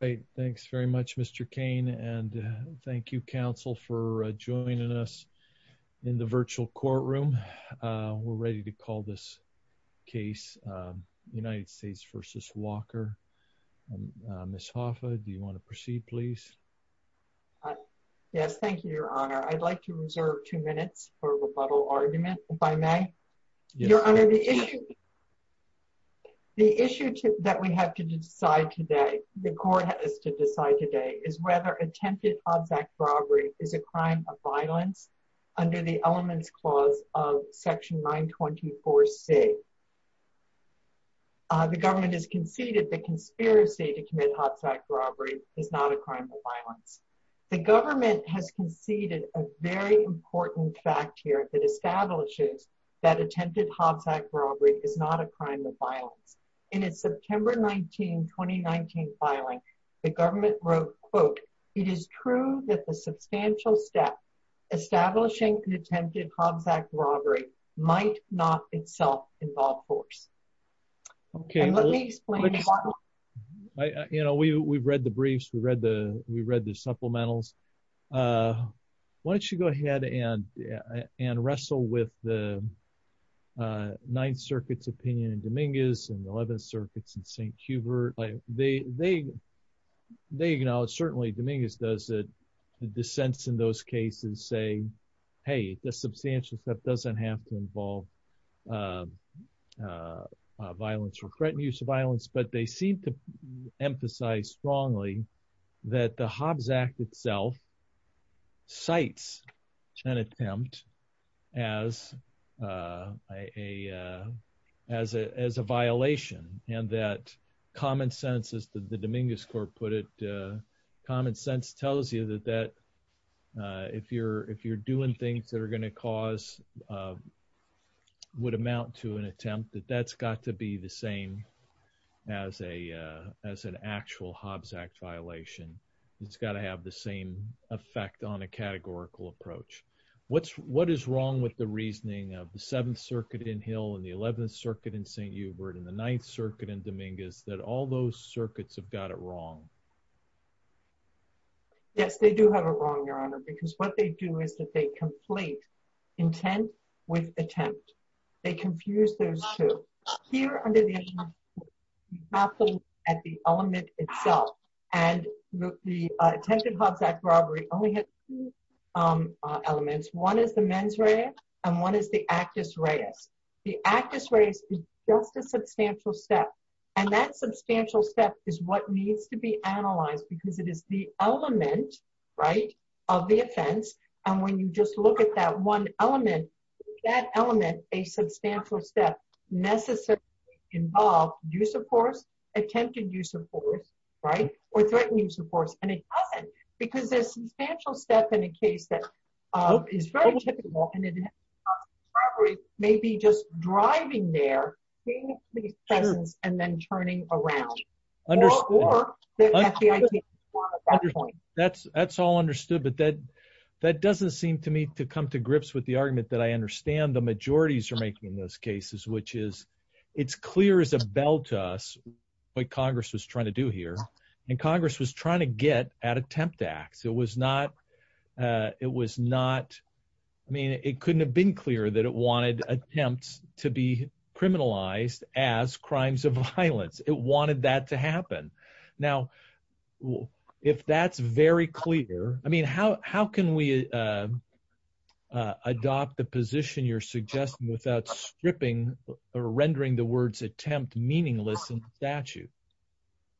Great, thanks very much Mr. Kane and thank you counsel for joining us in the virtual courtroom. We're ready to call this case United States v. Walker. Ms. Hoffa, do you want to proceed please? Yes, thank you your honor. I'd like to reserve two minutes for rebuttal argument if I may. Your honor, the issue that we have to decide today, the court has to decide today, is whether attempted Hobbs Act robbery is a crime of violence under the elements clause of section 924c. The government has conceded the conspiracy to commit Hobbs Act robbery is not a crime of Hobbs Act robbery is not a crime of violence. In its September 19, 2019 filing, the government wrote, quote, it is true that the substantial step establishing an attempted Hobbs Act robbery might not itself involve force. Okay, let me explain. You know, we we've read the briefs, we read the we read the supplementals. Why don't you go ahead and wrestle with the Ninth Circuit's opinion in Dominguez and the Eleventh Circuit's in St. Hubert. They acknowledge, certainly Dominguez does, that the dissents in those cases say, hey, the substantial step doesn't have to involve violence or threatened use of violence. But they seem to emphasize strongly that the Hobbs Act itself cites an attempt as a violation and that common sense, as the Dominguez court put it, common sense tells you that if you're doing things that are going to cause, would amount to an attempt that that's got to be the same as an actual Hobbs Act violation. It's got to have the same effect on a categorical approach. What's what is wrong with the reasoning of the Seventh Circuit in Hill and the Eleventh Circuit in St. Hubert and the Ninth Circuit in Dominguez that all those circuits have got it wrong? Yes, they do have a wrong, Your Honor, because what they do is that they complete intent with attempt. They confuse those two here under the capital at the element itself. And the attempted Hobbs Act robbery only had two elements. One is the mens rea and one is the actus reus. The actus reus is just a substantial step. And that substantial step is what needs to be analyzed because it is the element, right, of the offense. And when you just look at that one element, that element, a substantial step necessarily involved use of force, attempted use of force, right, or threatened use of force. And it doesn't because there's substantial step in a case that is very typical. And it may be just driving their presence and then turning around. That's all understood. But that doesn't seem to me to come to grips with the argument that I understand the majorities are making those cases, it's clear as a bell to us what Congress was trying to do here. And Congress was trying to get at attempt acts. It couldn't have been clear that it wanted attempts to be criminalized as crimes of violence. It wanted that to happen. Now, if that's very clear, I mean, how can we adopt the position you're suggesting without stripping or rendering the words attempt meaningless in the statute?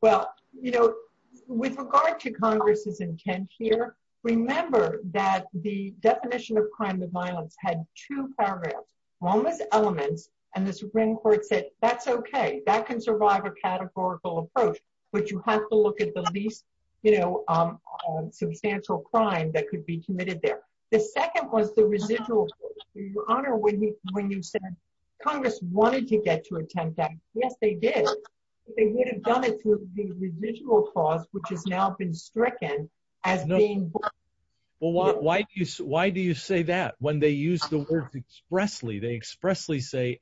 Well, you know, with regard to Congress's intent here, remember that the definition of crime of violence had two paragraphs. One was elements, and the Supreme Court said, that's okay, that can survive a categorical approach, but you have to look at the least, you know, substantial crime that could be committed there. The second was the residual. Your Honor, when you said Congress wanted to get to attempt that, yes, they did. They would have done it through the residual clause, which has now been stricken as being... Well, why do you say that? When they use the words expressly, they expressly say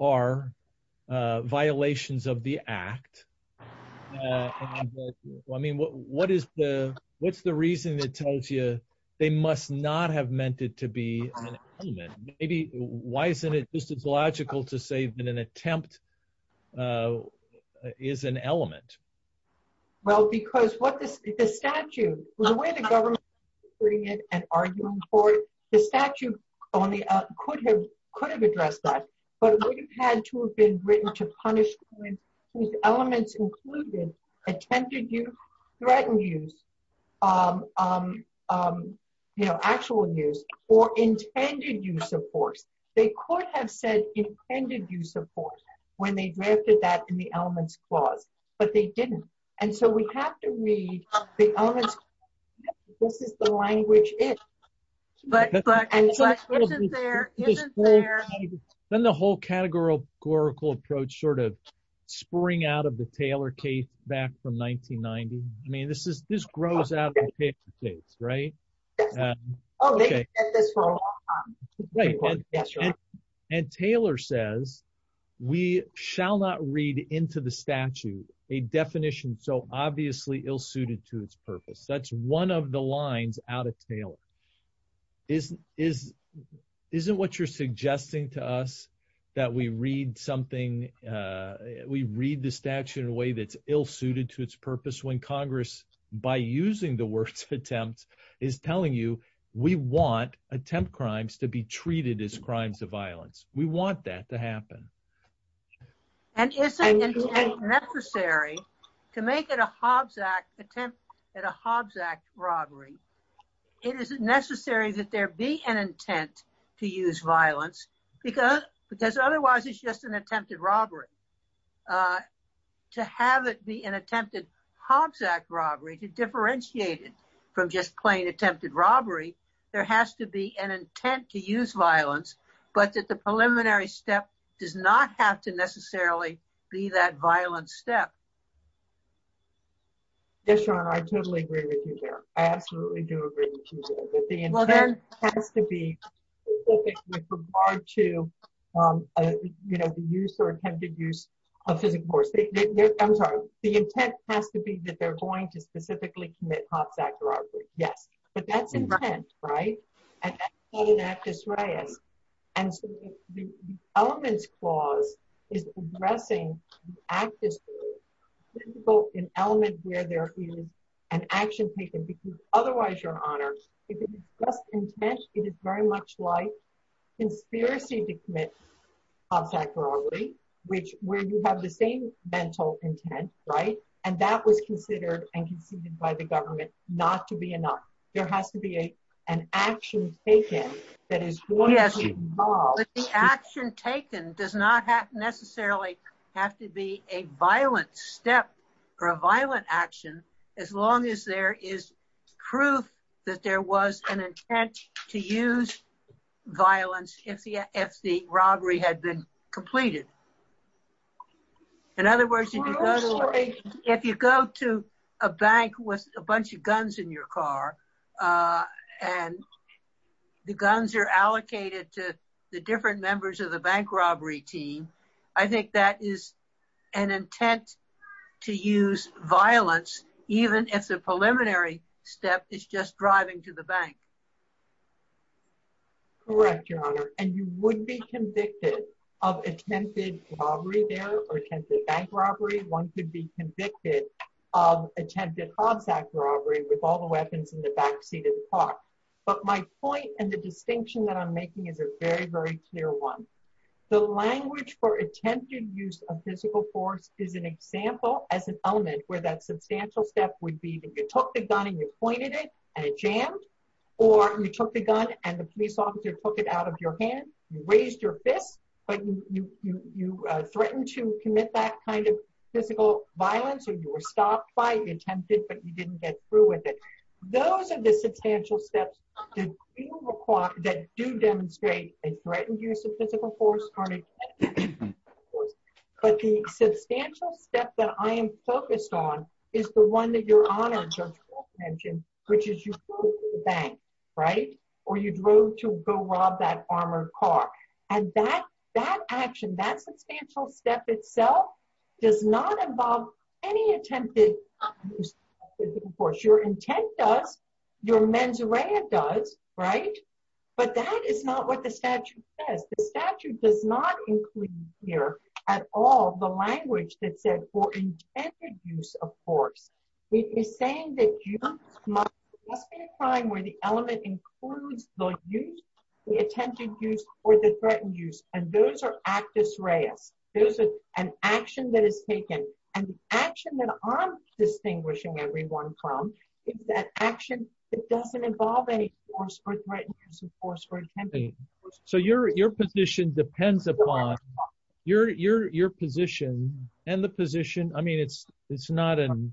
are violations of the act. I mean, what's the reason that tells you they must not have meant it to be an element? Maybe, why isn't it just as logical to say that an attempt is an element? Well, because the statute, the way the government is putting it and arguing for it, the statute only could have addressed that, but it would have had to have been written to punish those elements included, attempted use, threatened use, you know, actual use, or intended use of force. They could have said intended use of force when they drafted that in the elements clause, but they didn't. And so we have to read the elements. This is the language but it's there. Then the whole categorical approach sort of spring out of the Taylor case back from 1990. I mean, this grows out of the case, right? And Taylor says, we shall not read into the statute a definition so obviously ill-suited to its purpose. That's one of the lines out of Taylor. Isn't what you're suggesting to us that we read something, we read the statute in a way that's ill-suited to its purpose when Congress, by using the words attempt, is telling you we want attempt crimes to be treated as crimes of violence. We want that to happen. And is it necessary to make it a Hobbs Act attempt at a Hobbs Act robbery? It is necessary that there be an intent to use violence because otherwise it's just an attempted robbery. To have it be an attempted Hobbs Act robbery to differentiate it from just plain does not have to necessarily be that violent step. Yes, your honor. I totally agree with you there. I absolutely do agree with you there. But the intent has to be specific with regard to the use or attempted use of physical force. I'm sorry. The intent has to be that they're going to specifically commit Hobbs Act robbery. Yes. But that's intent, right? And that's not an actus reus. And so the elements clause is addressing the actus reus, both in element where there is an action taken because otherwise, your honor, if it's just intent, it is very much like conspiracy to commit Hobbs Act robbery, which where you have the same mental intent, right? And that was considered and conceded by the government not to be enough. There has to be an action taken that is going to involve. But the action taken does not necessarily have to be a violent step or a violent action, as long as there is proof that there was an intent to use violence if the robbery had been completed. In other words, if you go to a bank with a bunch of guns in your car, and the guns are allocated to the different members of the bank robbery team, I think that is an intent to use violence, even if the preliminary step is just driving to the bank. Correct, your honor. And you would be convicted of attempted robbery there or attempted bank robbery. One could be convicted of attempted Hobbs Act robbery with all the weapons in the backseat of the car. But my point and the distinction that I'm making is a very, very clear one. The language for attempted use of physical force is an example as an element where that substantial step would be that you took the gun and you pointed it and it jammed, or you took the gun and the police officer took it out of your hand, you raised your fist, but you threatened to commit that kind of physical violence, or you were stopped by, you attempted, but you didn't get through with it. Those are the substantial steps that do demonstrate a threatened use of physical force. But the substantial step that I am focused on is the one that your honor, Judge Wolf, mentioned, which is you drove to the bank, right? Or you drove to go rob that armored car. And that, that action, that substantial step itself does not involve any attempted physical force. Your intent does, your mens rea does, right? But that is not what the statute says. The statute does not include here at all the language that said for intended use of force. It is saying that you must be applying where the element includes the use, the attempted use, or the threatened use. And those are actus reus. Those are an action that is taken. And the action that I'm distinguishing everyone from is that action that doesn't involve any force or threatened use of force or attempted use of force. So your, your position depends upon your, your, your position and the position. I mean, it's, it's not an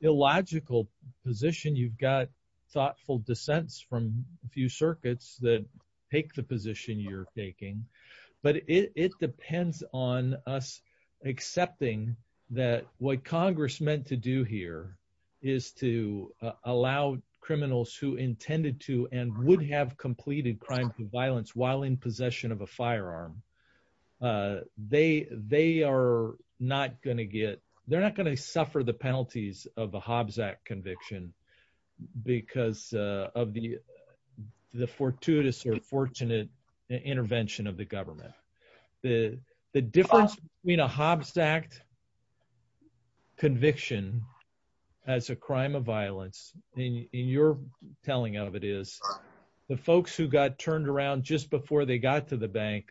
illogical position. You've got thoughtful dissents from a few circuits that take the position you're taking. But it depends on us accepting that what Congress meant to do here is to allow criminals who intended to and would have completed crimes of violence while in possession of a firearm. They, they are not going to get, they're not going to suffer the penalties of a Hobbs Act conviction because of the, the fortuitous or fortunate intervention of the as a crime of violence in your telling of it is the folks who got turned around just before they got to the bank.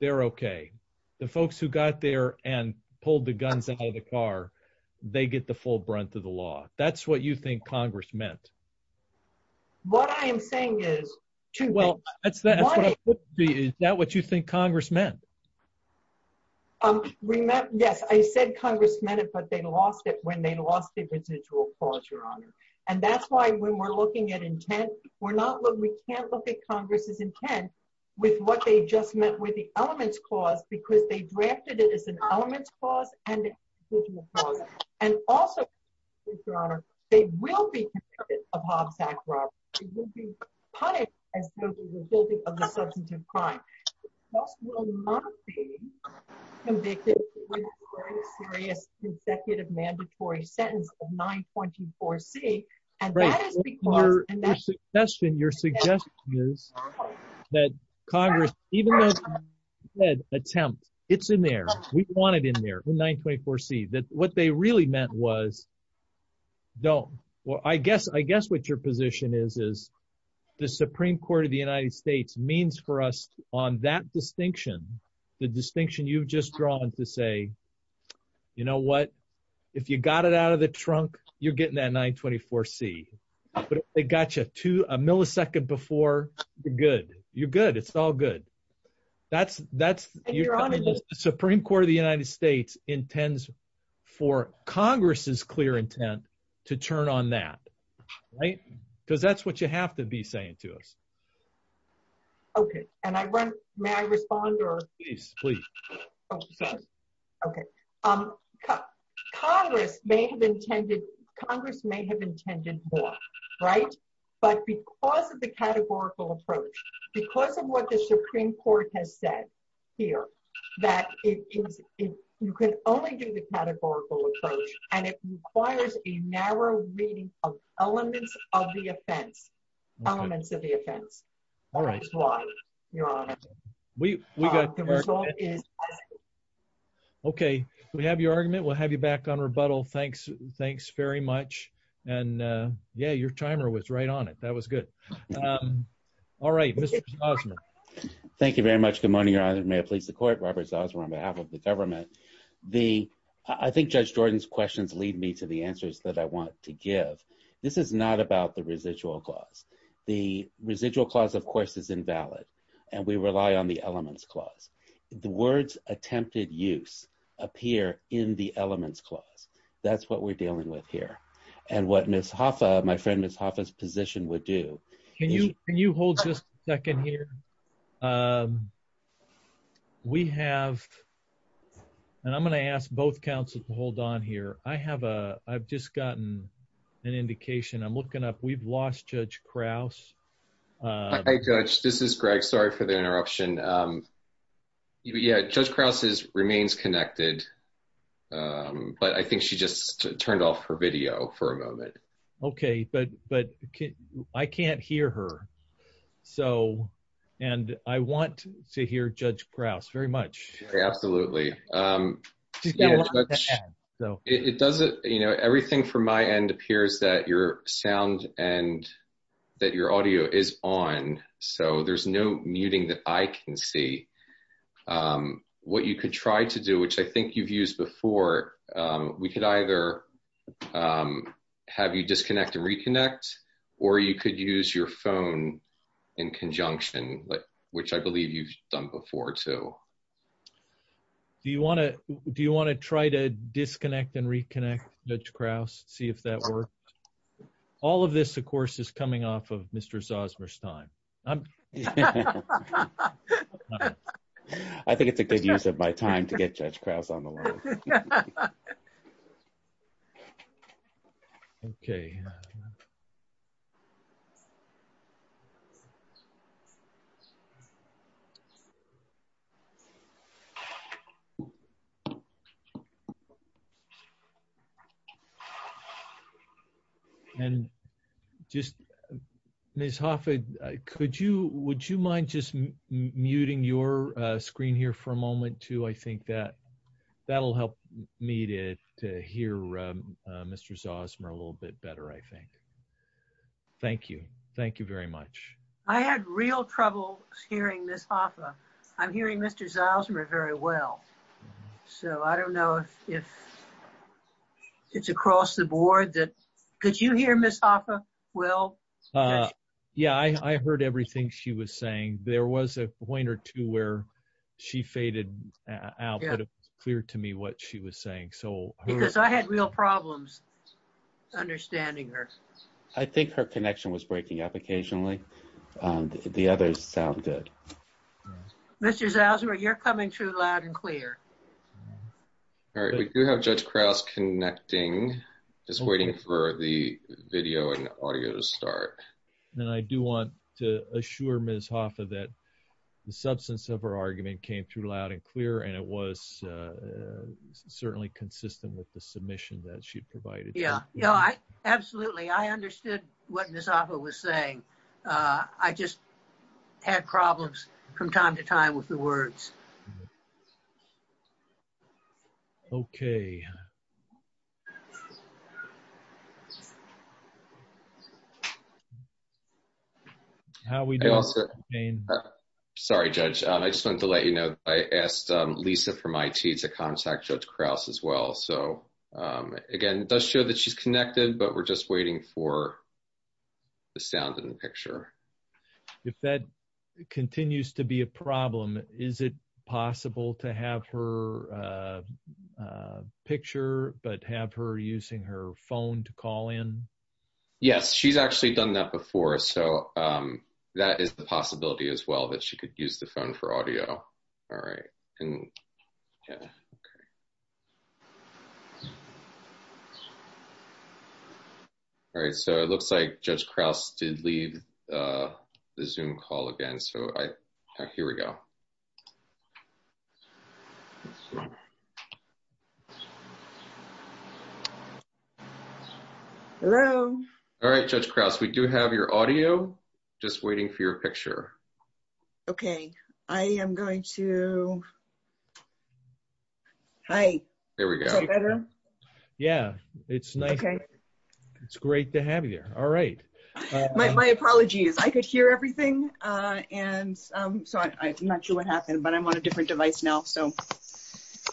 They're okay. The folks who got there and pulled the guns out of the car, they get the full brunt of the law. That's what you think Congress meant. What I am saying is, well, that's that. Is that what you think Congress meant? Remember, yes, I said Congress meant it, but they lost it when they lost the residual clause, your honor. And that's why when we're looking at intent, we're not looking, we can't look at Congress's intent with what they just met with the elements clause, because they drafted it as an element clause and also, your honor, they will be of Hobbs Act. It will be punished as a result of the substance of crime. The judge will not be convicted with a very serious consecutive mandatory sentence of 924C. And that is because- Right. Your suggestion is that Congress, even though you said attempt, it's in there, we want it in there, 924C, that what they really meant was, no. Well, I guess what your position is, is the Supreme Court of the United States means for us on that distinction, the distinction you've just drawn to say, you know what, if you got it out of the trunk, you're getting that 924C. But if they got you a millisecond before, you're good, it's all good. The Supreme Court of the United States intends for Congress's clear intent, to turn on that, right? Because that's what you have to be saying to us. Okay. And I run, may I respond or- Please, please. Okay. Congress may have intended more, right? But because of the categorical approach, because of what the Supreme Court has said here, that you can only do the categorical approach, and it requires a narrow reading of elements of the offense, elements of the offense. All right. That's why, Your Honor. Okay. We have your argument. We'll have you back on rebuttal. Thanks very much. And yeah, your timer was right on it. That was good. All right, Mr. Zausman. Thank you very much. Good morning, Your Honor. May it please the court, Robert Zausman, on behalf of the government. I think Judge Jordan's questions lead me to the answers that I want to give. This is not about the residual clause. The residual clause, of course, is invalid. And we rely on the elements clause. The words attempted use appear in the elements clause. That's what we're dealing with here. And what Ms. Hoffa, my friend, Ms. Hoffa's position would do. Can you hold just a second here? We have, and I'm going to ask both counsel to hold on here. I have a, I've just gotten an indication. I'm looking up. We've lost Judge Krause. Hi, Judge. This is Greg. Sorry for the interruption. Yeah, Judge Krause remains connected, but I think she just turned off her video for a moment. Okay, but I can't hear her. So, and I want to hear Judge Krause very much. Absolutely. It doesn't, you know, everything from my end appears that your sound and that your audio is on. So there's no muting that I can see. What you could try to do, which I think you've used before, we could either have you disconnect and reconnect, or you could use your phone in conjunction, which I believe you've done before, too. Do you want to, do you want to try to disconnect and reconnect, Judge Krause, see if that works? All of this, of course, is coming off of Mr. Zosmer's time. I think it's a good use of my time to get Judge Krause on the line. Okay. Yeah. And just, Ms. Hoffa, could you, would you mind just muting your screen here for a moment, too? I think that, that'll help me to hear Mr. Zosmer a little bit better, I think. Thank you. Thank you very much. I had real trouble hearing Ms. Hoffa. I'm hearing Mr. Zosmer very well. So I don't know if it's across the board that, could you hear Ms. Hoffa well? Yeah, I heard everything she was saying. There was a point or two where she faded out, but it was clear to me what she was saying. Because I had real problems understanding her. I think her connection was breaking up occasionally. The others sound good. Mr. Zosmer, you're coming through loud and clear. All right, we do have Judge Krause connecting, just waiting for the video and audio to start. And I do want to assure Ms. Hoffa that the substance of her argument came through loud and clear, and it was certainly consistent with the submission that she provided. Yeah, yeah, absolutely. I understood what Ms. Hoffa was saying. I just had problems from time to time with the words. Okay. How are we doing, Mr. McCain? Sorry, Judge. I just wanted to let you know I asked Lisa from IT to contact Judge Krause as well. So again, it does show that she's connected, but we're just waiting for the sound and the picture. If that continues to be a problem, is it possible to have her picture but have her using her phone to call in? Yes, she's actually done that before. So that is the possibility as well, that she could use the phone for audio. All right. All right, so it looks like Judge Krause did leave the Zoom call again. So here we go. Hello? All right, Judge Krause, we do have your audio. Just waiting for your picture. Okay. I am going to... There we go. Is that better? Yeah, it's nice. Okay. It's great to have you there. All right. I'm on a different device now, so...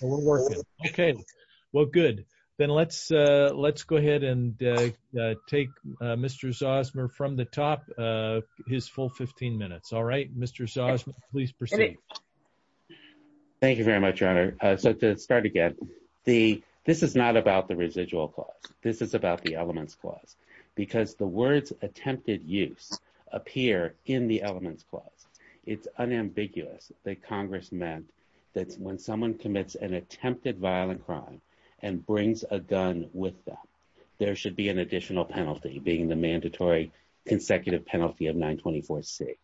We're working. Okay. Well, good. Then let's go ahead and take Mr. Zosmer from the top, his full 15 minutes. All right, Mr. Zosmer, please proceed. Thank you very much, Your Honor. So to start again, this is not about the residual clause. This is about the elements clause, because the words attempted use appear in the elements clause. It's unambiguous that Congress meant that when someone commits an attempted violent crime and brings a gun with them, there should be an additional penalty being the mandatory consecutive penalty of 924C.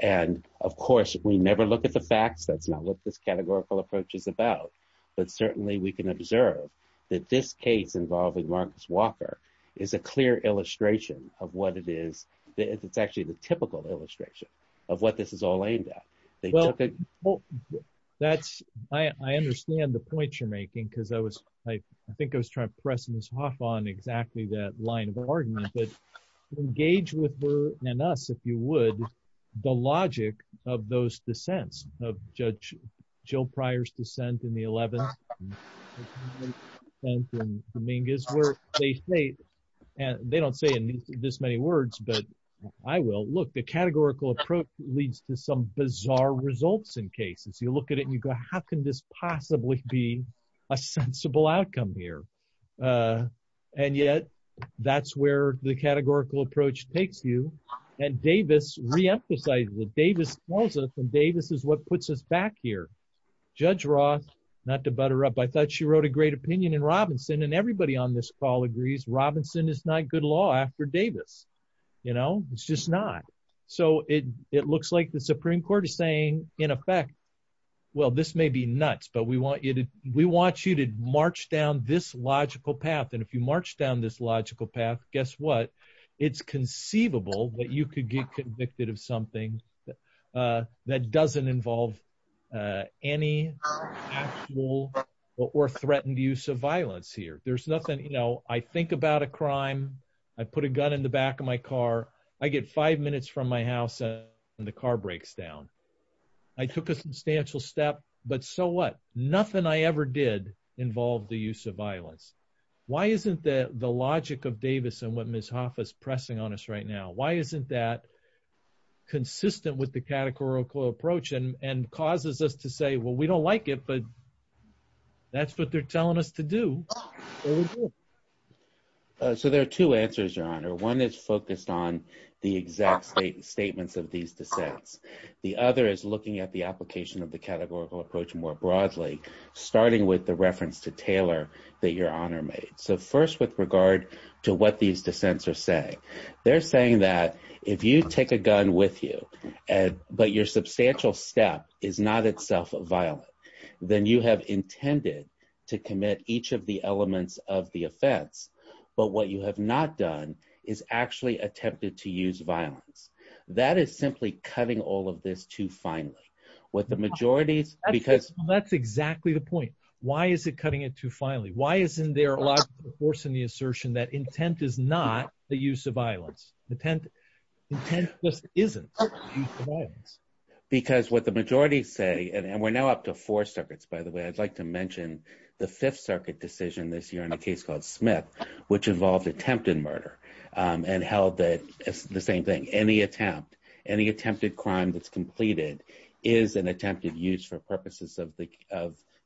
And of course, we never look at the facts. That's not what this categorical approach is about. But certainly, we can observe that this case involving Marcus Walker is a clear illustration of what it is. It's actually the typical illustration of what this is all aimed at. Well, I understand the point you're making, because I think I was trying to press Ms. Hoff on exactly that line of argument. But engage with her and us, if you would, the logic of those dissents, of Judge Jill Pryor's dissent in the 11th and Dominguez where they say, and they don't say it in this many words, but I will, look, the categorical approach leads to some bizarre results in cases. You look at it and you go, how can this possibly be a sensible outcome here? And yet, that's where the categorical approach takes you. And Davis reemphasizes it. Davis calls it, and Davis is what puts us back here. Judge Roth, not to butter up, I thought she wrote a great opinion in Robinson, and everybody on this call agrees, Robinson is not good law after Davis. It's just not. So it looks like the Supreme Court is saying, in effect, well, this may be nuts, but we want you to march down this logical path. And if you march down this logical path, guess what? It's conceivable that you could get convicted of something that doesn't involve any actual or threatened use of violence here. There's nothing, I think about a crime, I put a gun in the back of my car, I get five minutes from my house and the car breaks down. I took a substantial step, but so what? Nothing I ever did involved the use of violence. Why isn't the logic of Davis and what Ms. Hoffa is pressing on us right now, why isn't that consistent with the categorical approach and causes us to say, well, we don't like it, but that's what they're telling us to do. So there are two answers, Your Honor. One is focused on the exact statements of these dissents. The other is looking at the application of the categorical approach more broadly, starting with the reference to Taylor that Your Honor made. So first, with regard to what these dissents are saying, they're saying that if you take a gun with you, but your substantial step is not itself violent, then you have intended to commit each of the elements of the offense, but what you have not done is actually attempted to use violence. That is simply cutting all of this too finely. With the majorities, because- That's exactly the point. Why is it cutting it too finely? Why isn't there a lot of force in the assertion that intent is not the use of violence? Intent just isn't the use of violence. Because what the majority say, and we're now up to four circuits, by the way, I'd like to mention the Fifth Circuit decision this year in a case called Smith, which involved attempted murder and held that it's the same thing. Any attempt, any attempted crime that's completed is an attempted use for purposes of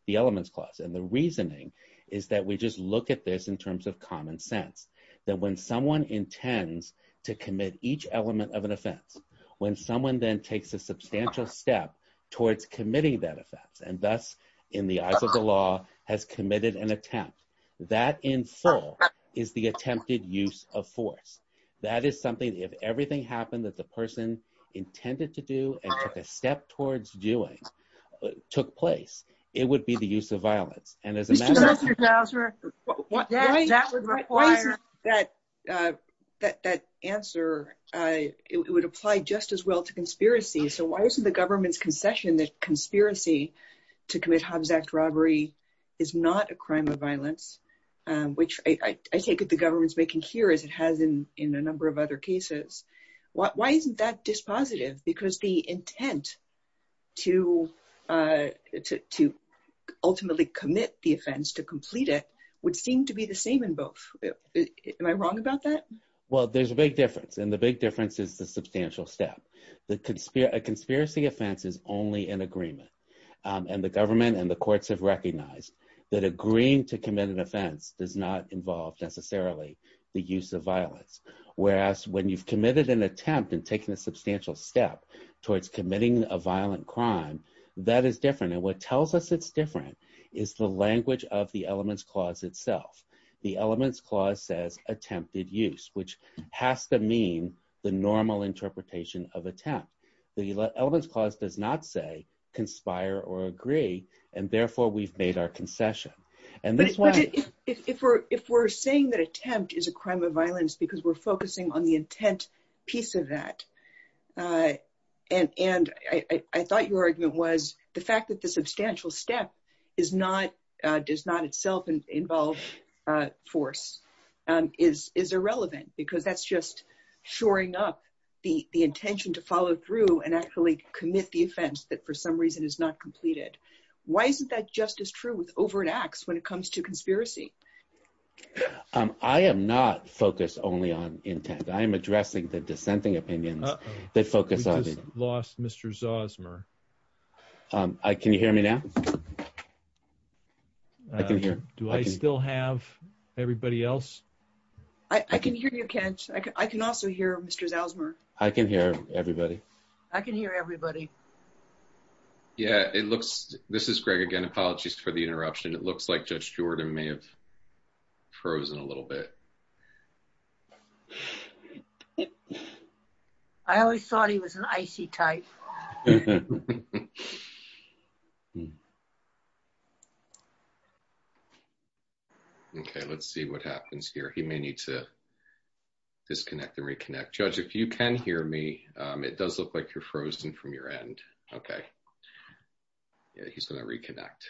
the elements clause. And the reasoning is that we just look at this in terms of common sense, that when someone intends to commit each element of an offense, when someone then takes a substantial step towards committing that offense, and thus, in the eyes of the law, has committed an attempt, that in full is the attempted use of force. That is something that if everything happened that the person intended to do and took a step towards doing, took place, it would be the use of violence. And as a matter of- Mr. Bowser, that would require that answer, it would apply just as well to conspiracy. So why isn't the government's concession that conspiracy to commit Hobbs Act robbery is not a crime of violence, which I take it the government's making here, as it has in a number of other cases. Why isn't that dispositive? Because the intent to ultimately commit the offense, to complete it, would seem to be the same in both. Am I wrong about that? Well, there's a big difference. And the big difference is the substantial step. A conspiracy offense is only an agreement. And the government and the courts have recognized that agreeing to commit an offense does not involve necessarily the use of violence. Whereas when you've committed an attempt and taken a substantial step towards committing a violent crime, that is different. And what tells us it's different is the language of the Elements Clause itself. The Elements Clause says attempted use, which has to mean the normal interpretation of attempt. The Elements Clause does not say conspire or agree, and therefore we've made our concession. But if we're saying that attempt is a crime of violence because we're focusing on the intent piece of that, and I thought your argument was the fact that the substantial step is not, does not itself involve force, is irrelevant because that's just shoring up the intention to follow through and actually commit the offense that for some reason is not completed. Why isn't that just as true with overt acts when it comes to conspiracy? I am not focused only on intent. I am addressing the dissenting opinions that focus on it. We just lost Mr. Zosmer. Can you hear me now? Do I still have everybody else? I can hear you, Kent. I can also hear Mr. Zosmer. I can hear everybody. I can hear everybody. Yeah, it looks, this is Greg again. Apologies for the interruption. It looks like Judge Stewart may have frozen a little bit. I always thought he was an icy type. Okay, let's see what happens here. He may need to disconnect and reconnect. Judge, if you can hear me, it does look like you're frozen from your end. Okay. Yeah, he's going to disconnect.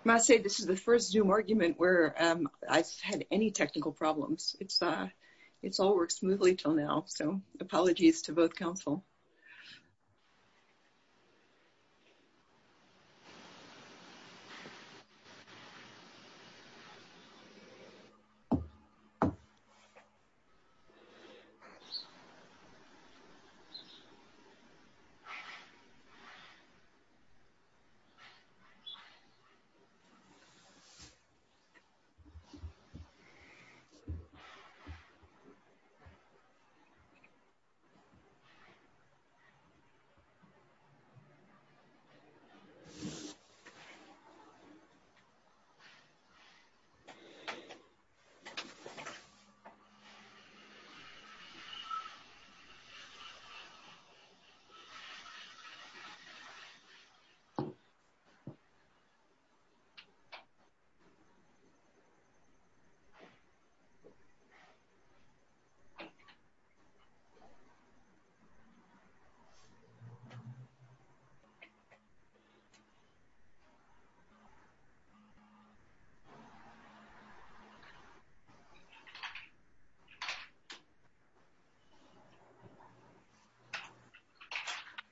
I must say this is the first Zoom argument where I've had any technical problems. It's all worked smoothly till now, so apologies to both counsel. Okay.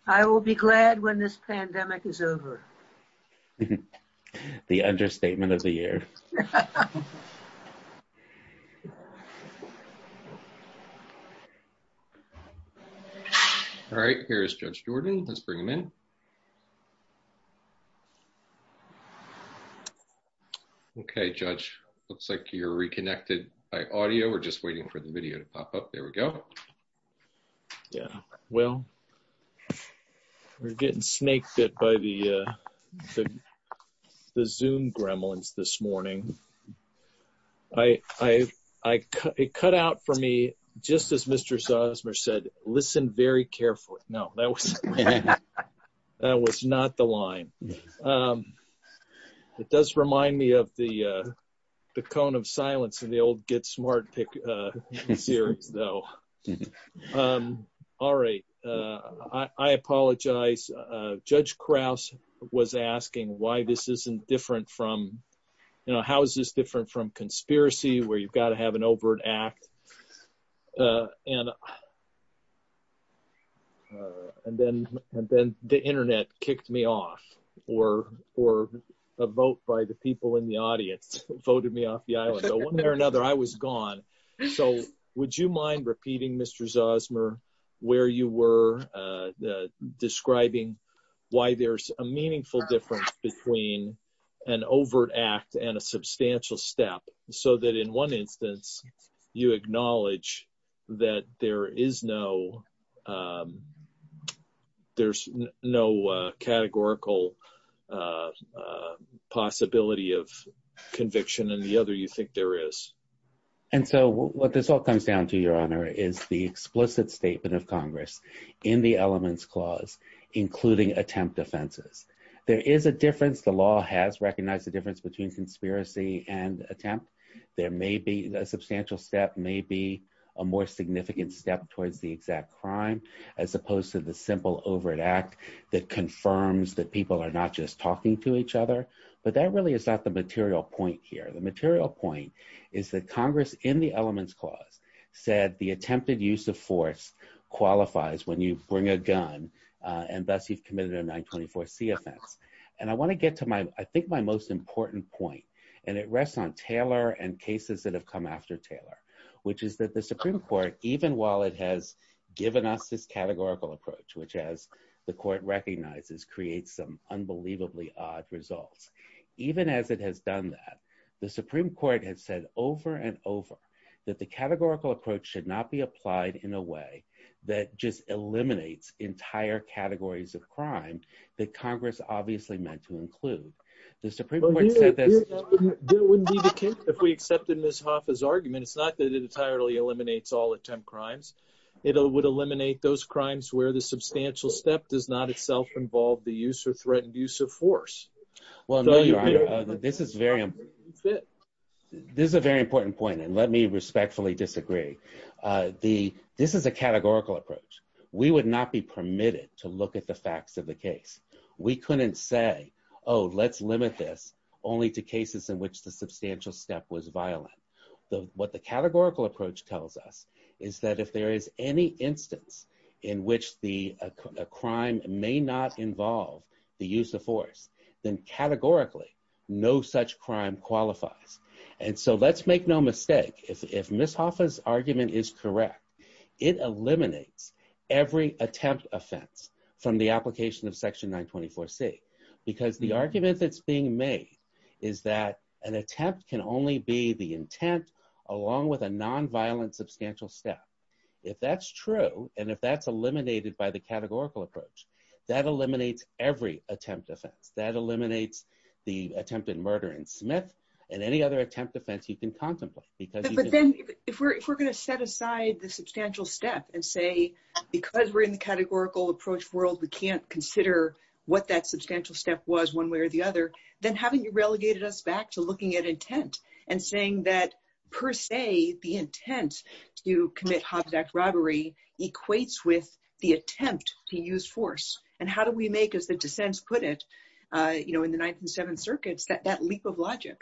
I will be glad when this pandemic is over. The understatement of the year. All right, here's Judge Jordan. Let's bring him in. Okay, Judge, looks like you're reconnected by audio. We're just waiting for the video to pop up. There we go. Yeah, well, we're getting snake bit by the Zoom gremlins this morning. It cut out for me, just as Mr. Zosmer said, listen very carefully. No, that was not the line. It does remind me of the cone of silence in the old Get Smart Pick series, though. All right. I apologize. Judge Krause was asking why this isn't different from, you know, how is this different from conspiracy where you've got to have an overt act? And then the internet kicked me off, or a vote by the people in the audience voted me off the where you were describing why there's a meaningful difference between an overt act and a substantial step. So that in one instance, you acknowledge that there is no, there's no categorical possibility of conviction and the other you think there is. And so what this all comes down to, Your Honor, is the explicit statement of Congress in the Elements Clause, including attempt offenses. There is a difference. The law has recognized the difference between conspiracy and attempt. There may be a substantial step, may be a more significant step towards the exact crime, as opposed to the simple overt act that confirms that people are not just talking to each other. But that really is not the material point here. The material point is that Congress in the Elements Clause said the attempted use of force qualifies when you bring a gun and thus you've committed a 924c offense. And I want to get to my, I think my most important point, and it rests on Taylor and cases that have come after Taylor, which is that the Supreme Court, even while it has given us this categorical approach, which as the Court recognizes, creates some unbelievably odd results. Even as it has done that, the Supreme Court has said over and over that the categorical approach should not be applied in a way that just eliminates entire categories of crime that Congress obviously meant to include. If we accepted Ms. Hoffa's argument, it's not that it entirely eliminates all attempt crimes. It would eliminate those crimes where the substantial step does not itself involve the use or threatened use of force. This is a very important point, and let me respectfully disagree. This is a categorical approach. We would not be permitted to look at the facts of the case. We couldn't say, oh, let's limit this only to cases in which the substantial step was violent. What the categorical approach tells us is that if there is any instance in which the crime may not involve the use of force, then categorically, no such crime qualifies. And so let's make no mistake. If Ms. Hoffa's argument is correct, it eliminates every attempt offense from the application of Section 924c because the argument that's being made is that an attempt can only be the intent along with a nonviolent substantial step. If that's true, and if that's eliminated by the categorical approach, that eliminates every attempt offense. That eliminates the attempted murder in Smith and any other attempt offense you can contemplate. But then if we're going to set aside the substantial step and say, because we're in the categorical approach world, we can't consider what that substantial step was one way or the other. We're looking at intent and saying that, per se, the intent to commit Hobbs Act robbery equates with the attempt to use force. And how do we make, as the dissents put it, in the Ninth and Seventh Circuits, that leap of logic?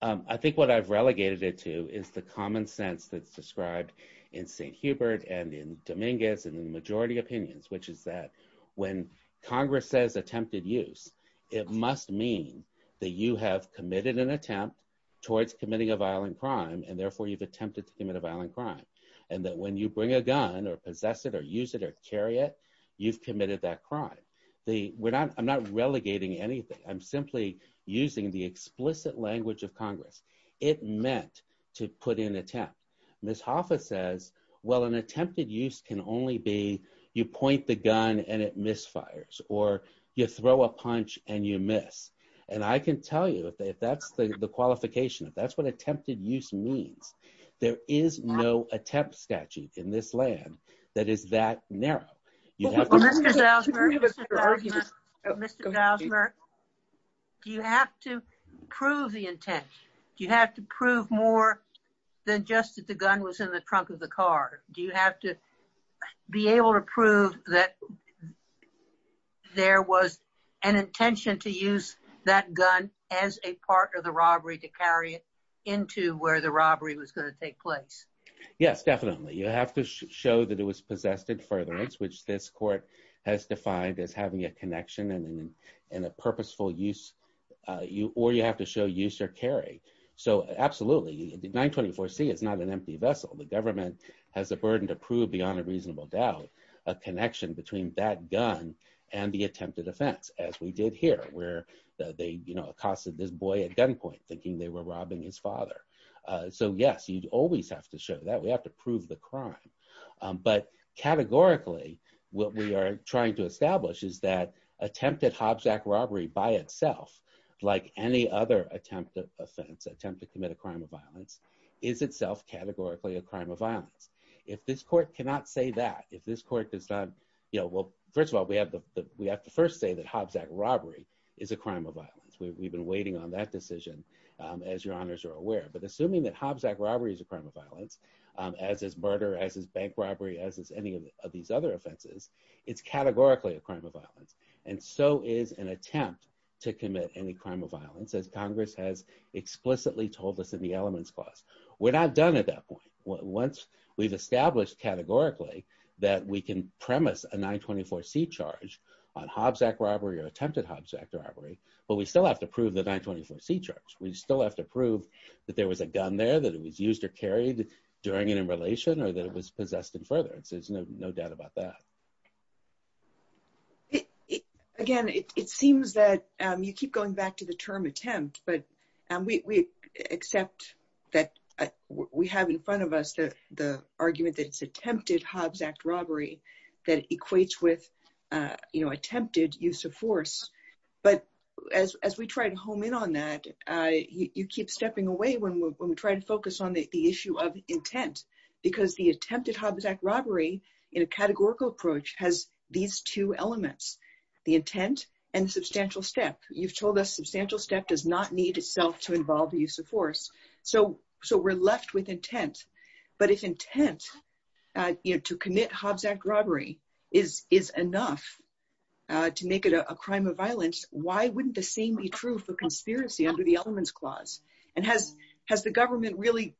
I think what I've relegated it to is the common sense that's described in St. Hubert and in Dominguez and in the majority opinions, which is that when Congress says attempted use, it must mean that you have committed an attempt towards committing a violent crime and therefore you've attempted to commit a violent crime. And that when you bring a gun or possess it or use it or carry it, you've committed that crime. I'm not relegating anything. I'm simply using the explicit language of Congress. It meant to put in attempt. Ms. Hoffa says, well, an attempted use can only be you point the gun and it misfires or you throw a punch and you miss. And I can tell you if that's the qualification, if that's what attempted use means, there is no attempt statute in this land that is that narrow. Mr. Zausmer, do you have to prove the intent? Do you have to prove more than just that the gun was in the trunk of the car? Do you have to be able to prove that there was an intention to use that gun as a part of the robbery to carry it into where the robbery was going to take place? Yes, definitely. You have to show that it was possessed at furtherance, which this court has defined as having a connection and a purposeful use. Or you have to show use or carry. So absolutely, the 924C is not an empty vessel. The government has a burden to prove beyond a reasonable doubt a connection between that gun and the attempted offense, as we did here, where they, you know, accosted this boy at gunpoint thinking they were robbing his father. So yes, you always have to show that. We have to prove the crime. But categorically, what we are trying to establish is that attempted Hobsack robbery by itself, like any other attempted offense, attempt to commit a crime of violence, is itself categorically a crime of violence. If this court cannot say that, if this court does not, you know, well, first of all, we have to first say that Hobsack robbery is a crime of violence. We've been waiting on that decision, as your honors are aware. But assuming that Hobsack robbery is a crime of violence, as is murder, as is bank robbery, as is any of these other offenses, it's categorically a crime of violence. And so is an attempt to commit any crime of violence, as Congress has explicitly told us in the Elements Clause. We're not done at that point. Once we've established categorically that we can premise a 924C charge on Hobsack robbery or attempted Hobsack robbery, but we still have to prove the 924C charge. We still have to prove that there was a gun there, that it was used or carried during and in relation, or that it was possessed in furtherance. There's no doubt about that. Again, it seems that you keep going back to the term attempt, but we accept that we have in front of us the argument that it's attempted Hobsack robbery that equates with, you know, attempted use of force. But as we try to home in on that, you keep stepping away when we try to focus on the issue of intent, because the attempted Hobsack robbery in a categorical approach has these two elements, the intent and substantial step. You've told us substantial step does not need itself to involve the use of force. So we're left with intent. But if intent, you know, to commit Hobsack robbery is enough to make it a crime of violence, why wouldn't the same be true for conspiracy under the elements clause? And has the government really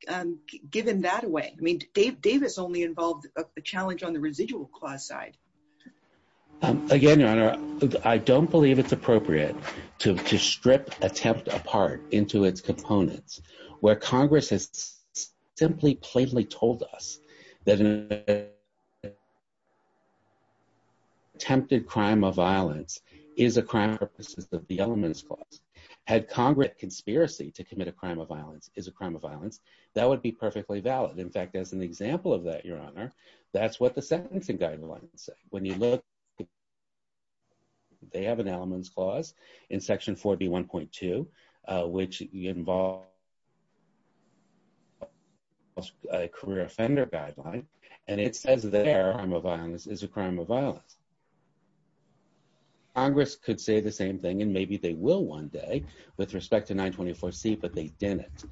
given that away? I mean, Davis only involved a challenge on the residual clause side. Again, Your Honor, I don't believe it's appropriate to strip attempt apart into its that attempted crime of violence is a crime purposes of the elements clause. Had Congress conspiracy to commit a crime of violence is a crime of violence, that would be perfectly valid. In fact, as an example of that, Your Honor, that's what the sentencing guidelines say. When you look, they have an elements clause in section 41.2, which involves a career offender guideline. And it says that a crime of violence is a crime of violence. Congress could say the same thing, and maybe they will one day with respect to 924C, but they didn't.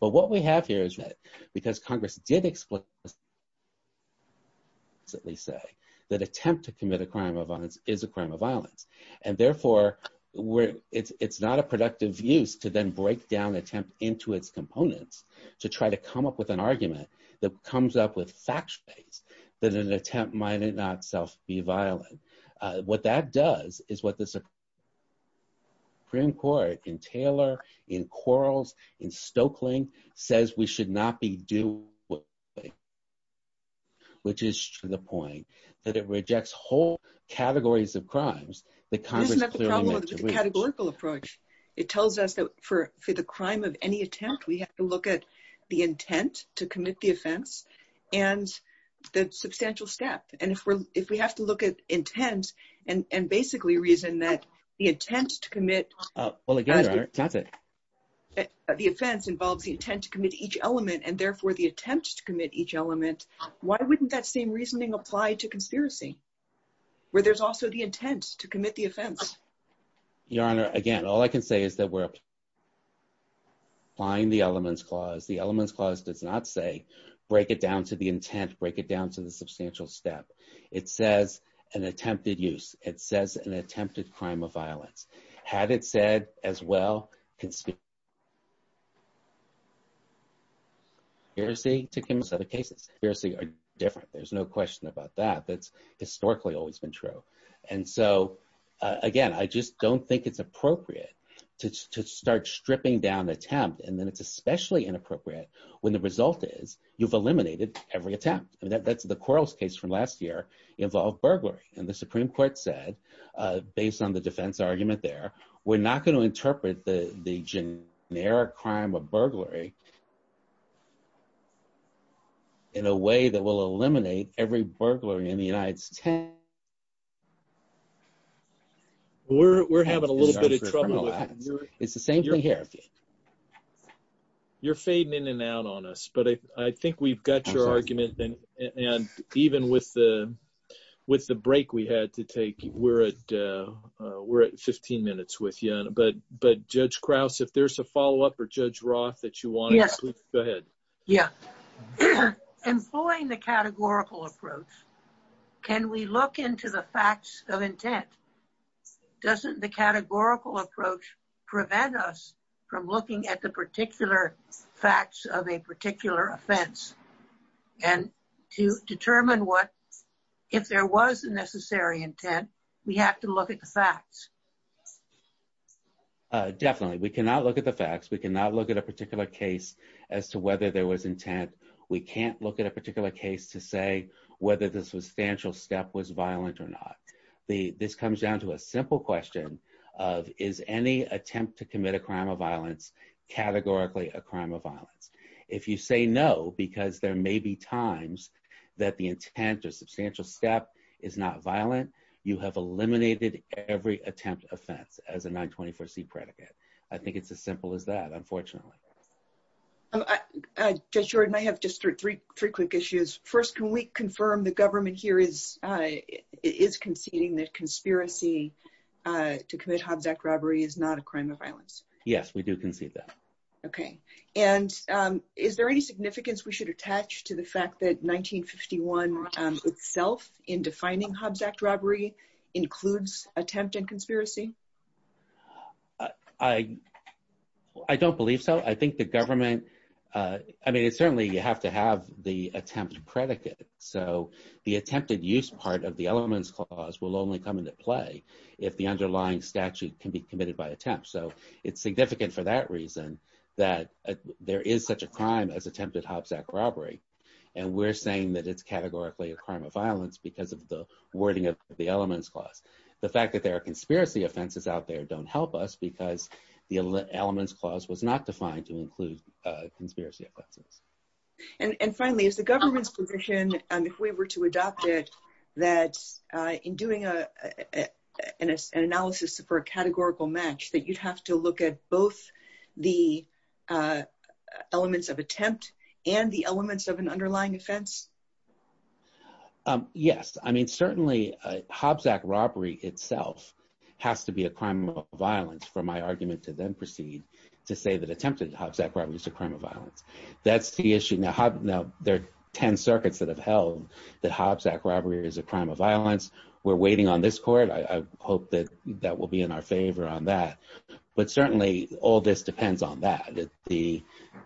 But what we have here is that because Congress did explicitly say that attempt to commit a crime of violence is a crime of violence. And therefore, it's not a productive use to then break down attempt into its components, to try to come up with an argument that comes up with facts based that an attempt might not self be violent. What that does is what the Supreme Court in Taylor, in Quarles, in Stokelyn says we should not be doing, which is to the point that it rejects whole categories of crimes that Congress clearly mentioned. Categorical approach. It tells us that for the crime of any attempt, we have to look at the intent to commit the offense and the substantial step. And if we have to look at intent and basically reason that the intent to commit the offense involves the intent to commit each element and therefore the attempt to commit each element, why wouldn't that same reasoning apply to conspiracy where there's also the intent to commit the offense? Your Honor, again, all I can say is that we're applying the elements clause. The elements clause does not say break it down to the intent, break it down to the substantial step. It says an attempted use. It says an attempted crime of violence. Had it said as well, conspiracy to commit a set of cases. Conspiracy are different. There's no question about that. That's historically always been true. And so again, I just don't think it's appropriate to start stripping down the attempt. And then it's especially inappropriate when the result is you've eliminated every attempt. I mean, that's the Quarles case from last year involved burglary. And the Supreme Court said, based on the defense argument there, we're not going to interpret the generic crime of burglary in a way that will eliminate every burglary in the United States. We're having a little bit of trouble. It's the same thing here. You're fading in and out on us, but I think we've got your argument. And even with the break we had to take, we're at 15 minutes with you. But Judge Krause, if there's a follow-up or Judge Roth that you want, please go ahead. Yeah. Employing the categorical approach, can we look into the facts of intent? Doesn't the categorical approach prevent us from looking at the particular facts of a particular offense? And to determine if there was a necessary intent, we have to look at the facts. Definitely. We cannot look at the facts. We cannot look at a particular case as to whether there was intent. We can't look at a particular case to say whether the substantial step was violent or not. This comes down to a simple question of, is any attempt to commit a crime of violence categorically a crime of violence? If you say no, because there may be times that the intent or substantial step is not violent, you have eliminated every attempt offense as a 924c predicate. I think it's as simple as that, unfortunately. Judge Jordan, I have just three quick issues. First, can we confirm the government here is conceding that conspiracy to commit Hobbs Act robbery is not a crime of violence? Yes, we do concede that. Okay. And is there any significance we should attach to the fact that 1951 itself in defining Hobbs Act robbery includes attempt and conspiracy? I don't believe so. I think the government, I mean, certainly you have to have the attempt predicate. So the attempted use part of the elements clause will only come into play if the underlying statute can be committed by attempt. So it's significant for that reason that there is such a crime as attempted Hobbs Act robbery. And we're saying that it's categorically a crime of violence because of the wording of the elements clause. The fact that there are conspiracy offenses out there don't help us because the elements clause was not defined to be a crime of violence. I'm just wondering if we were to adopt it, that in doing an analysis for a categorical match, that you'd have to look at both the elements of attempt and the elements of an underlying offense? Yes. I mean, certainly Hobbs Act robbery itself has to be a crime of violence for my argument to then proceed to say that attempted Hobbs Act robbery is a crime of violence. That's the issue. Now there are 10 circuits that have held that Hobbs Act robbery is a crime of violence. We're waiting on this court. I hope that that will be in our favor on that. But certainly all this depends on that.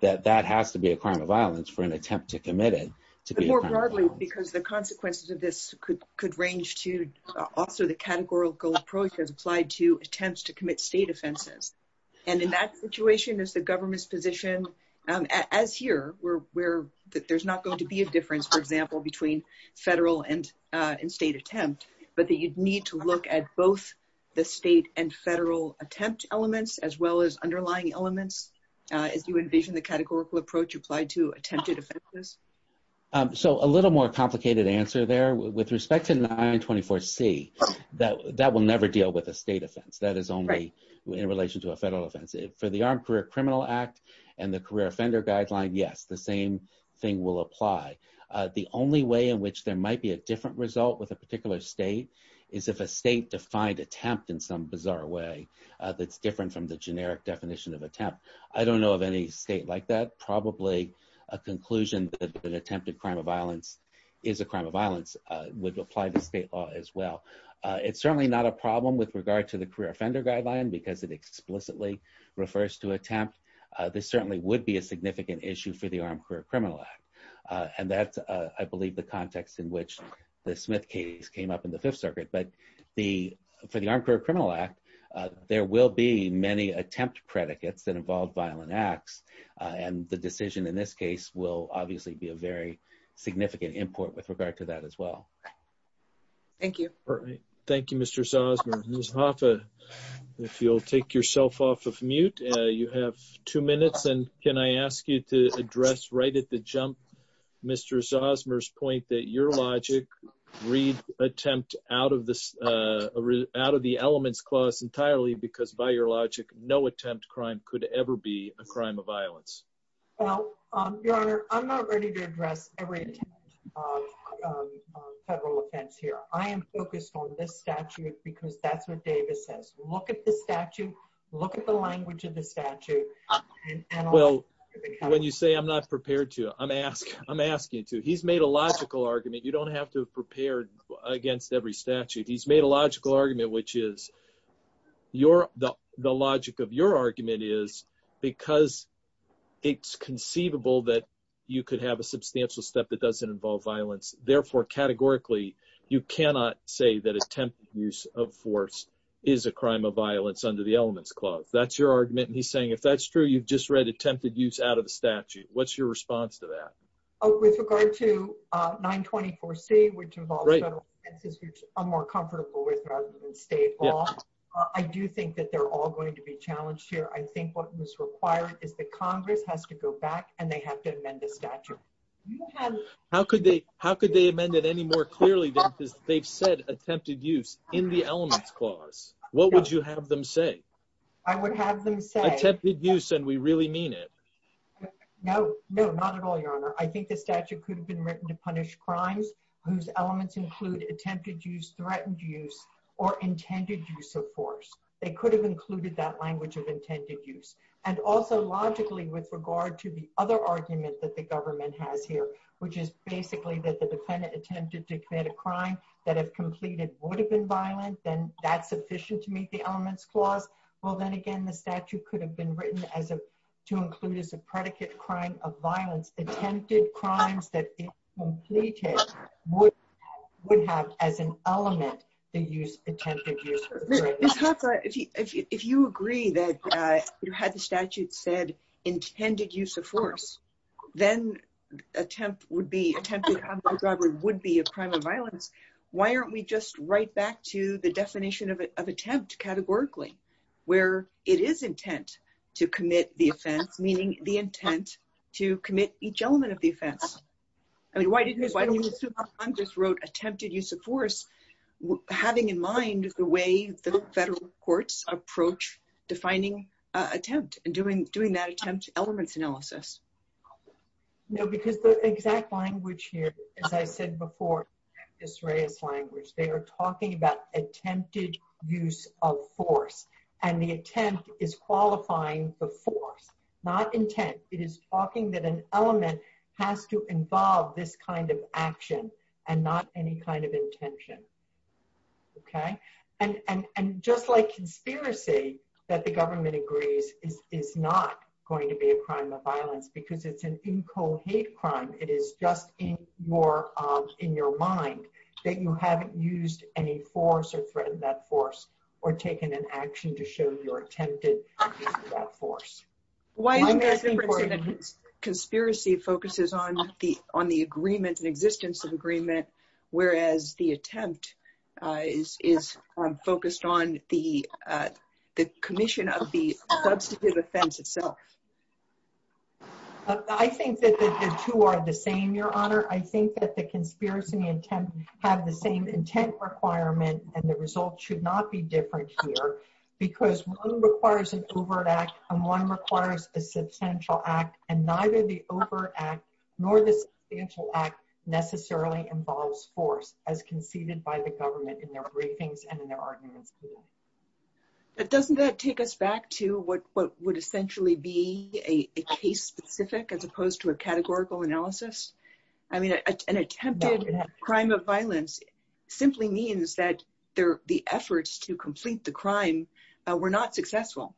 That has to be a crime of violence for an attempt to commit it. But more broadly, because the consequences of this could range to also the categorical approach that's applied to attempts to commit state offenses. And in that situation is the government's as here where there's not going to be a difference, for example, between federal and state attempt, but that you'd need to look at both the state and federal attempt elements, as well as underlying elements, as you envision the categorical approach applied to attempted offenses. So a little more complicated answer there with respect to 924 C, that will never deal with a state offense. That is only in relation to a federal offense. For the Armed Criminal Act and the career offender guideline, yes, the same thing will apply. The only way in which there might be a different result with a particular state is if a state defined attempt in some bizarre way that's different from the generic definition of attempt. I don't know of any state like that. Probably a conclusion that attempted crime of violence is a crime of violence would apply to state law as well. It's certainly not a problem with regard to the career offender guideline because it explicitly refers to attempt. This certainly would be a significant issue for the Armed Career Criminal Act. And that's, I believe, the context in which the Smith case came up in the Fifth Circuit. But for the Armed Career Criminal Act, there will be many attempt predicates that involve violent acts. And the decision in this case will obviously be a very significant import with regard to that as well. Thank you. All right. Thank you, Mr. Zosmer. Ms. Hoffa, if you'll take yourself off of mute. You have two minutes. And can I ask you to address right at the jump Mr. Zosmer's point that your logic read attempt out of the elements clause entirely because by your logic, no attempt crime could ever be a crime of violence. Well, Your Honor, I'm not ready to address every federal offense here. I am focused on this statute because that's what Davis says. Look at the statute. Look at the language of the statute. Well, when you say I'm not prepared to, I'm asking to. He's made a logical argument. You don't have to prepare against every statute. He's made a logical argument, which is the logic of your argument is because it's conceivable that you could have a substantial step that doesn't involve violence. Therefore, categorically, you cannot say that attempt use of force is a crime of violence under the elements clause. That's your argument. And he's saying, if that's true, you've just read attempted use out of the statute. What's your response to that? Oh, with regard to 924C, which involves federal offenses which I'm more comfortable with rather than state law, I do think that they're all going to be challenged here. I think what was required is that Congress has to go back and they have to amend the statute. How could they amend it any more clearly than they've said attempted use in the elements clause? What would you have them say? I would have them say... Attempted use and we really mean it. No, no, not at all, Your Honor. I think the statute could have been written to punish crimes whose elements include attempted use, threatened use, or intended use of force. They could have included that language of intended use. And also logically with regard to the other argument that the government has here, which is basically that the defendant attempted to commit a crime that if completed would have been violent, then that's sufficient to meet the elements clause. Well, then again, the statute could have been written to include as a predicate crime of would have as an element to use attempted use. If you agree that you had the statute said intended use of force, then attempt would be attempted robbery would be a crime of violence. Why aren't we just right back to the definition of attempt categorically, where it is intent to commit the offense, meaning the intent to commit each element of the offense? I mean, why didn't you just wrote attempted use of force, having in mind the way the federal courts approach defining attempt and doing that attempt elements analysis? No, because the exact language here, as I said before, Israel's language, they are talking about attempted use of force. And the attempt is talking that an element has to involve this kind of action and not any kind of intention. Okay. And just like conspiracy that the government agrees is not going to be a crime of violence because it's an incohate crime. It is just in your mind that you haven't used any force or threatened that force or taken an action to show your attempted use of that force. Why? Conspiracy focuses on the on the agreement and existence of agreement, whereas the attempt is focused on the commission of the substantive offense itself. I think that the two are the same, Your Honor, I think that the conspiracy intent have the same intent requirement and the result should not be different here, because one requires an overt act, and one requires a substantial act, and neither the overt act nor the substantial act necessarily involves force as conceded by the government in their briefings and in their arguments. But doesn't that take us back to what would essentially be a case specific as opposed to a categorical analysis? I mean, an attempted crime of violence simply means that the efforts to complete the crime were not successful.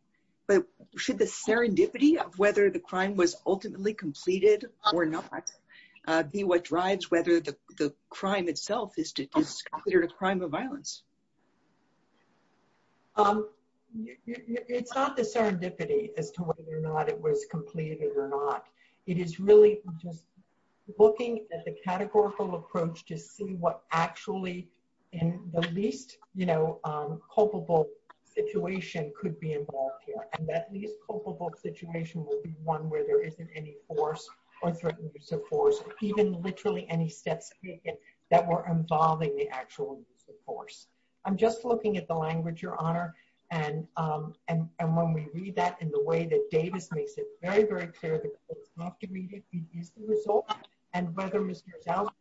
But should the serendipity of whether the crime was ultimately completed or not be what drives whether the crime itself is considered a crime of violence? It's not the serendipity as to whether it was completed or not. It is really just looking at the categorical approach to see what actually in the least, you know, culpable situation could be involved here. And that least culpable situation will be one where there isn't any force or threatened use of force, even literally any steps taken that were involving the actual use of force. I'm just looking at the language, Your Honor. And when we read that in the way that Davis makes it very, very clear that it's not immediate, it is the result, and whether Mr. Zell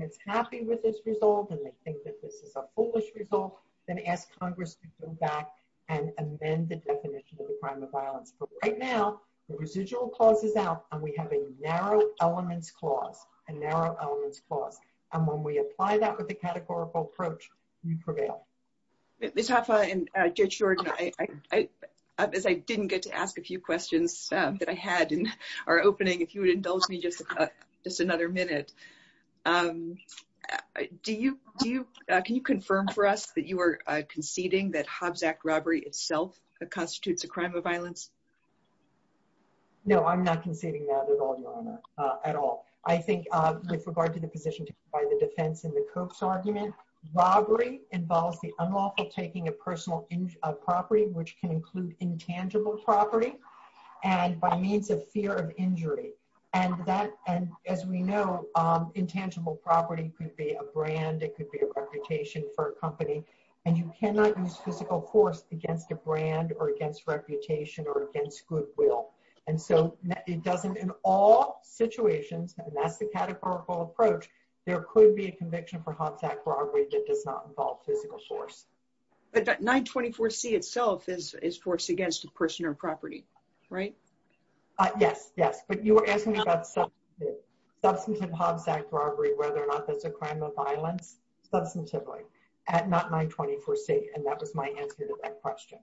is happy with this result, and they think that this is a foolish result, then ask Congress to go back and amend the definition of the crime of violence. But right now, the residual clause is out, and we have a narrow elements clause, a narrow elements clause. And when we apply that with the categorical approach, we prevail. Ms. Hoffa and Judge George, as I didn't get to ask a few questions that I had in our opening, if you would indulge me just another minute, can you confirm for us that you are conceding that Hobbs Act robbery itself constitutes a crime of violence? No, I'm not conceding that at all, Your Honor, at all. I think with regard to the position taken by the defense in the Cope's argument, robbery involves the unlawful taking of personal property, which can include intangible property, and by means of fear of injury. And as we know, intangible property could be a brand, it could be a reputation for a company, and you cannot use physical force against a brand or against reputation or against goodwill. And so it doesn't, in all situations, and that's the categorical approach, there could be a conviction for Hobbs Act robbery that does not involve physical force. But 924C itself is forced against a person or property, right? Yes, yes, but you were asking about substantive Hobbs Act robbery, whether or not that's a crime of violence, substantively, at 924C, and that was my answer to that question.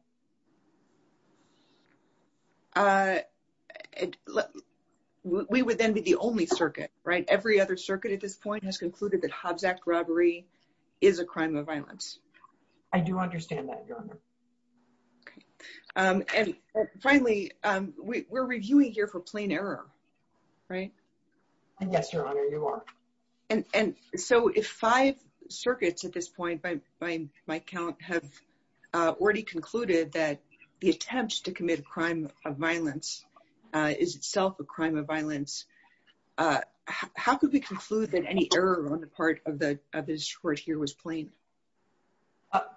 We would then be the only circuit, right? Every other circuit at this point has concluded that Hobbs Act robbery is a crime of violence. I do understand that, Your Honor. And finally, we're reviewing here for plain error, right? Yes, Your Honor, you are. And so if five circuits at this point, by my count, have already concluded that the attempt to commit a crime of violence is itself a crime of violence, how could we conclude that any error on the part of this court here was plain?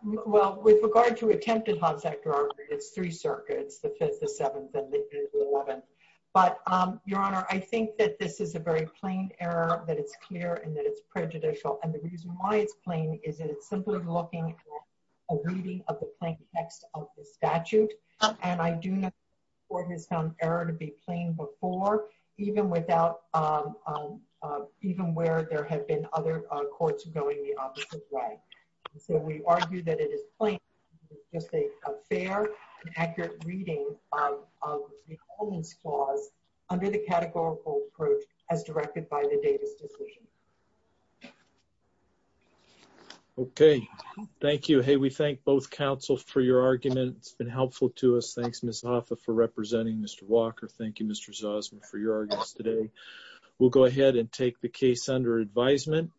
Well, with regard to attempted Hobbs Act robbery, it's three circuits, the fifth, the seventh, and the eleventh. But, Your Honor, I think that this is a very plain error, that it's clear, and that it's prejudicial. And the reason why it's plain is that it's simply looking at a reading of the plain text of the statute. And I do know the court has found error to be plain before, even where there have been other courts going the opposite way. So we argue that it is plain, just a fair and accurate reading of the Holden's Clause under the categorical approach as directed by the Davis decision. Okay, thank you. Hey, we thank both counsels for your argument. It's been helpful to us. Thanks, Ms. Hoffa, for representing Mr. Walker. Thank you, Mr. Zosman, for your arguments today. We'll go ahead and take the case under advisement.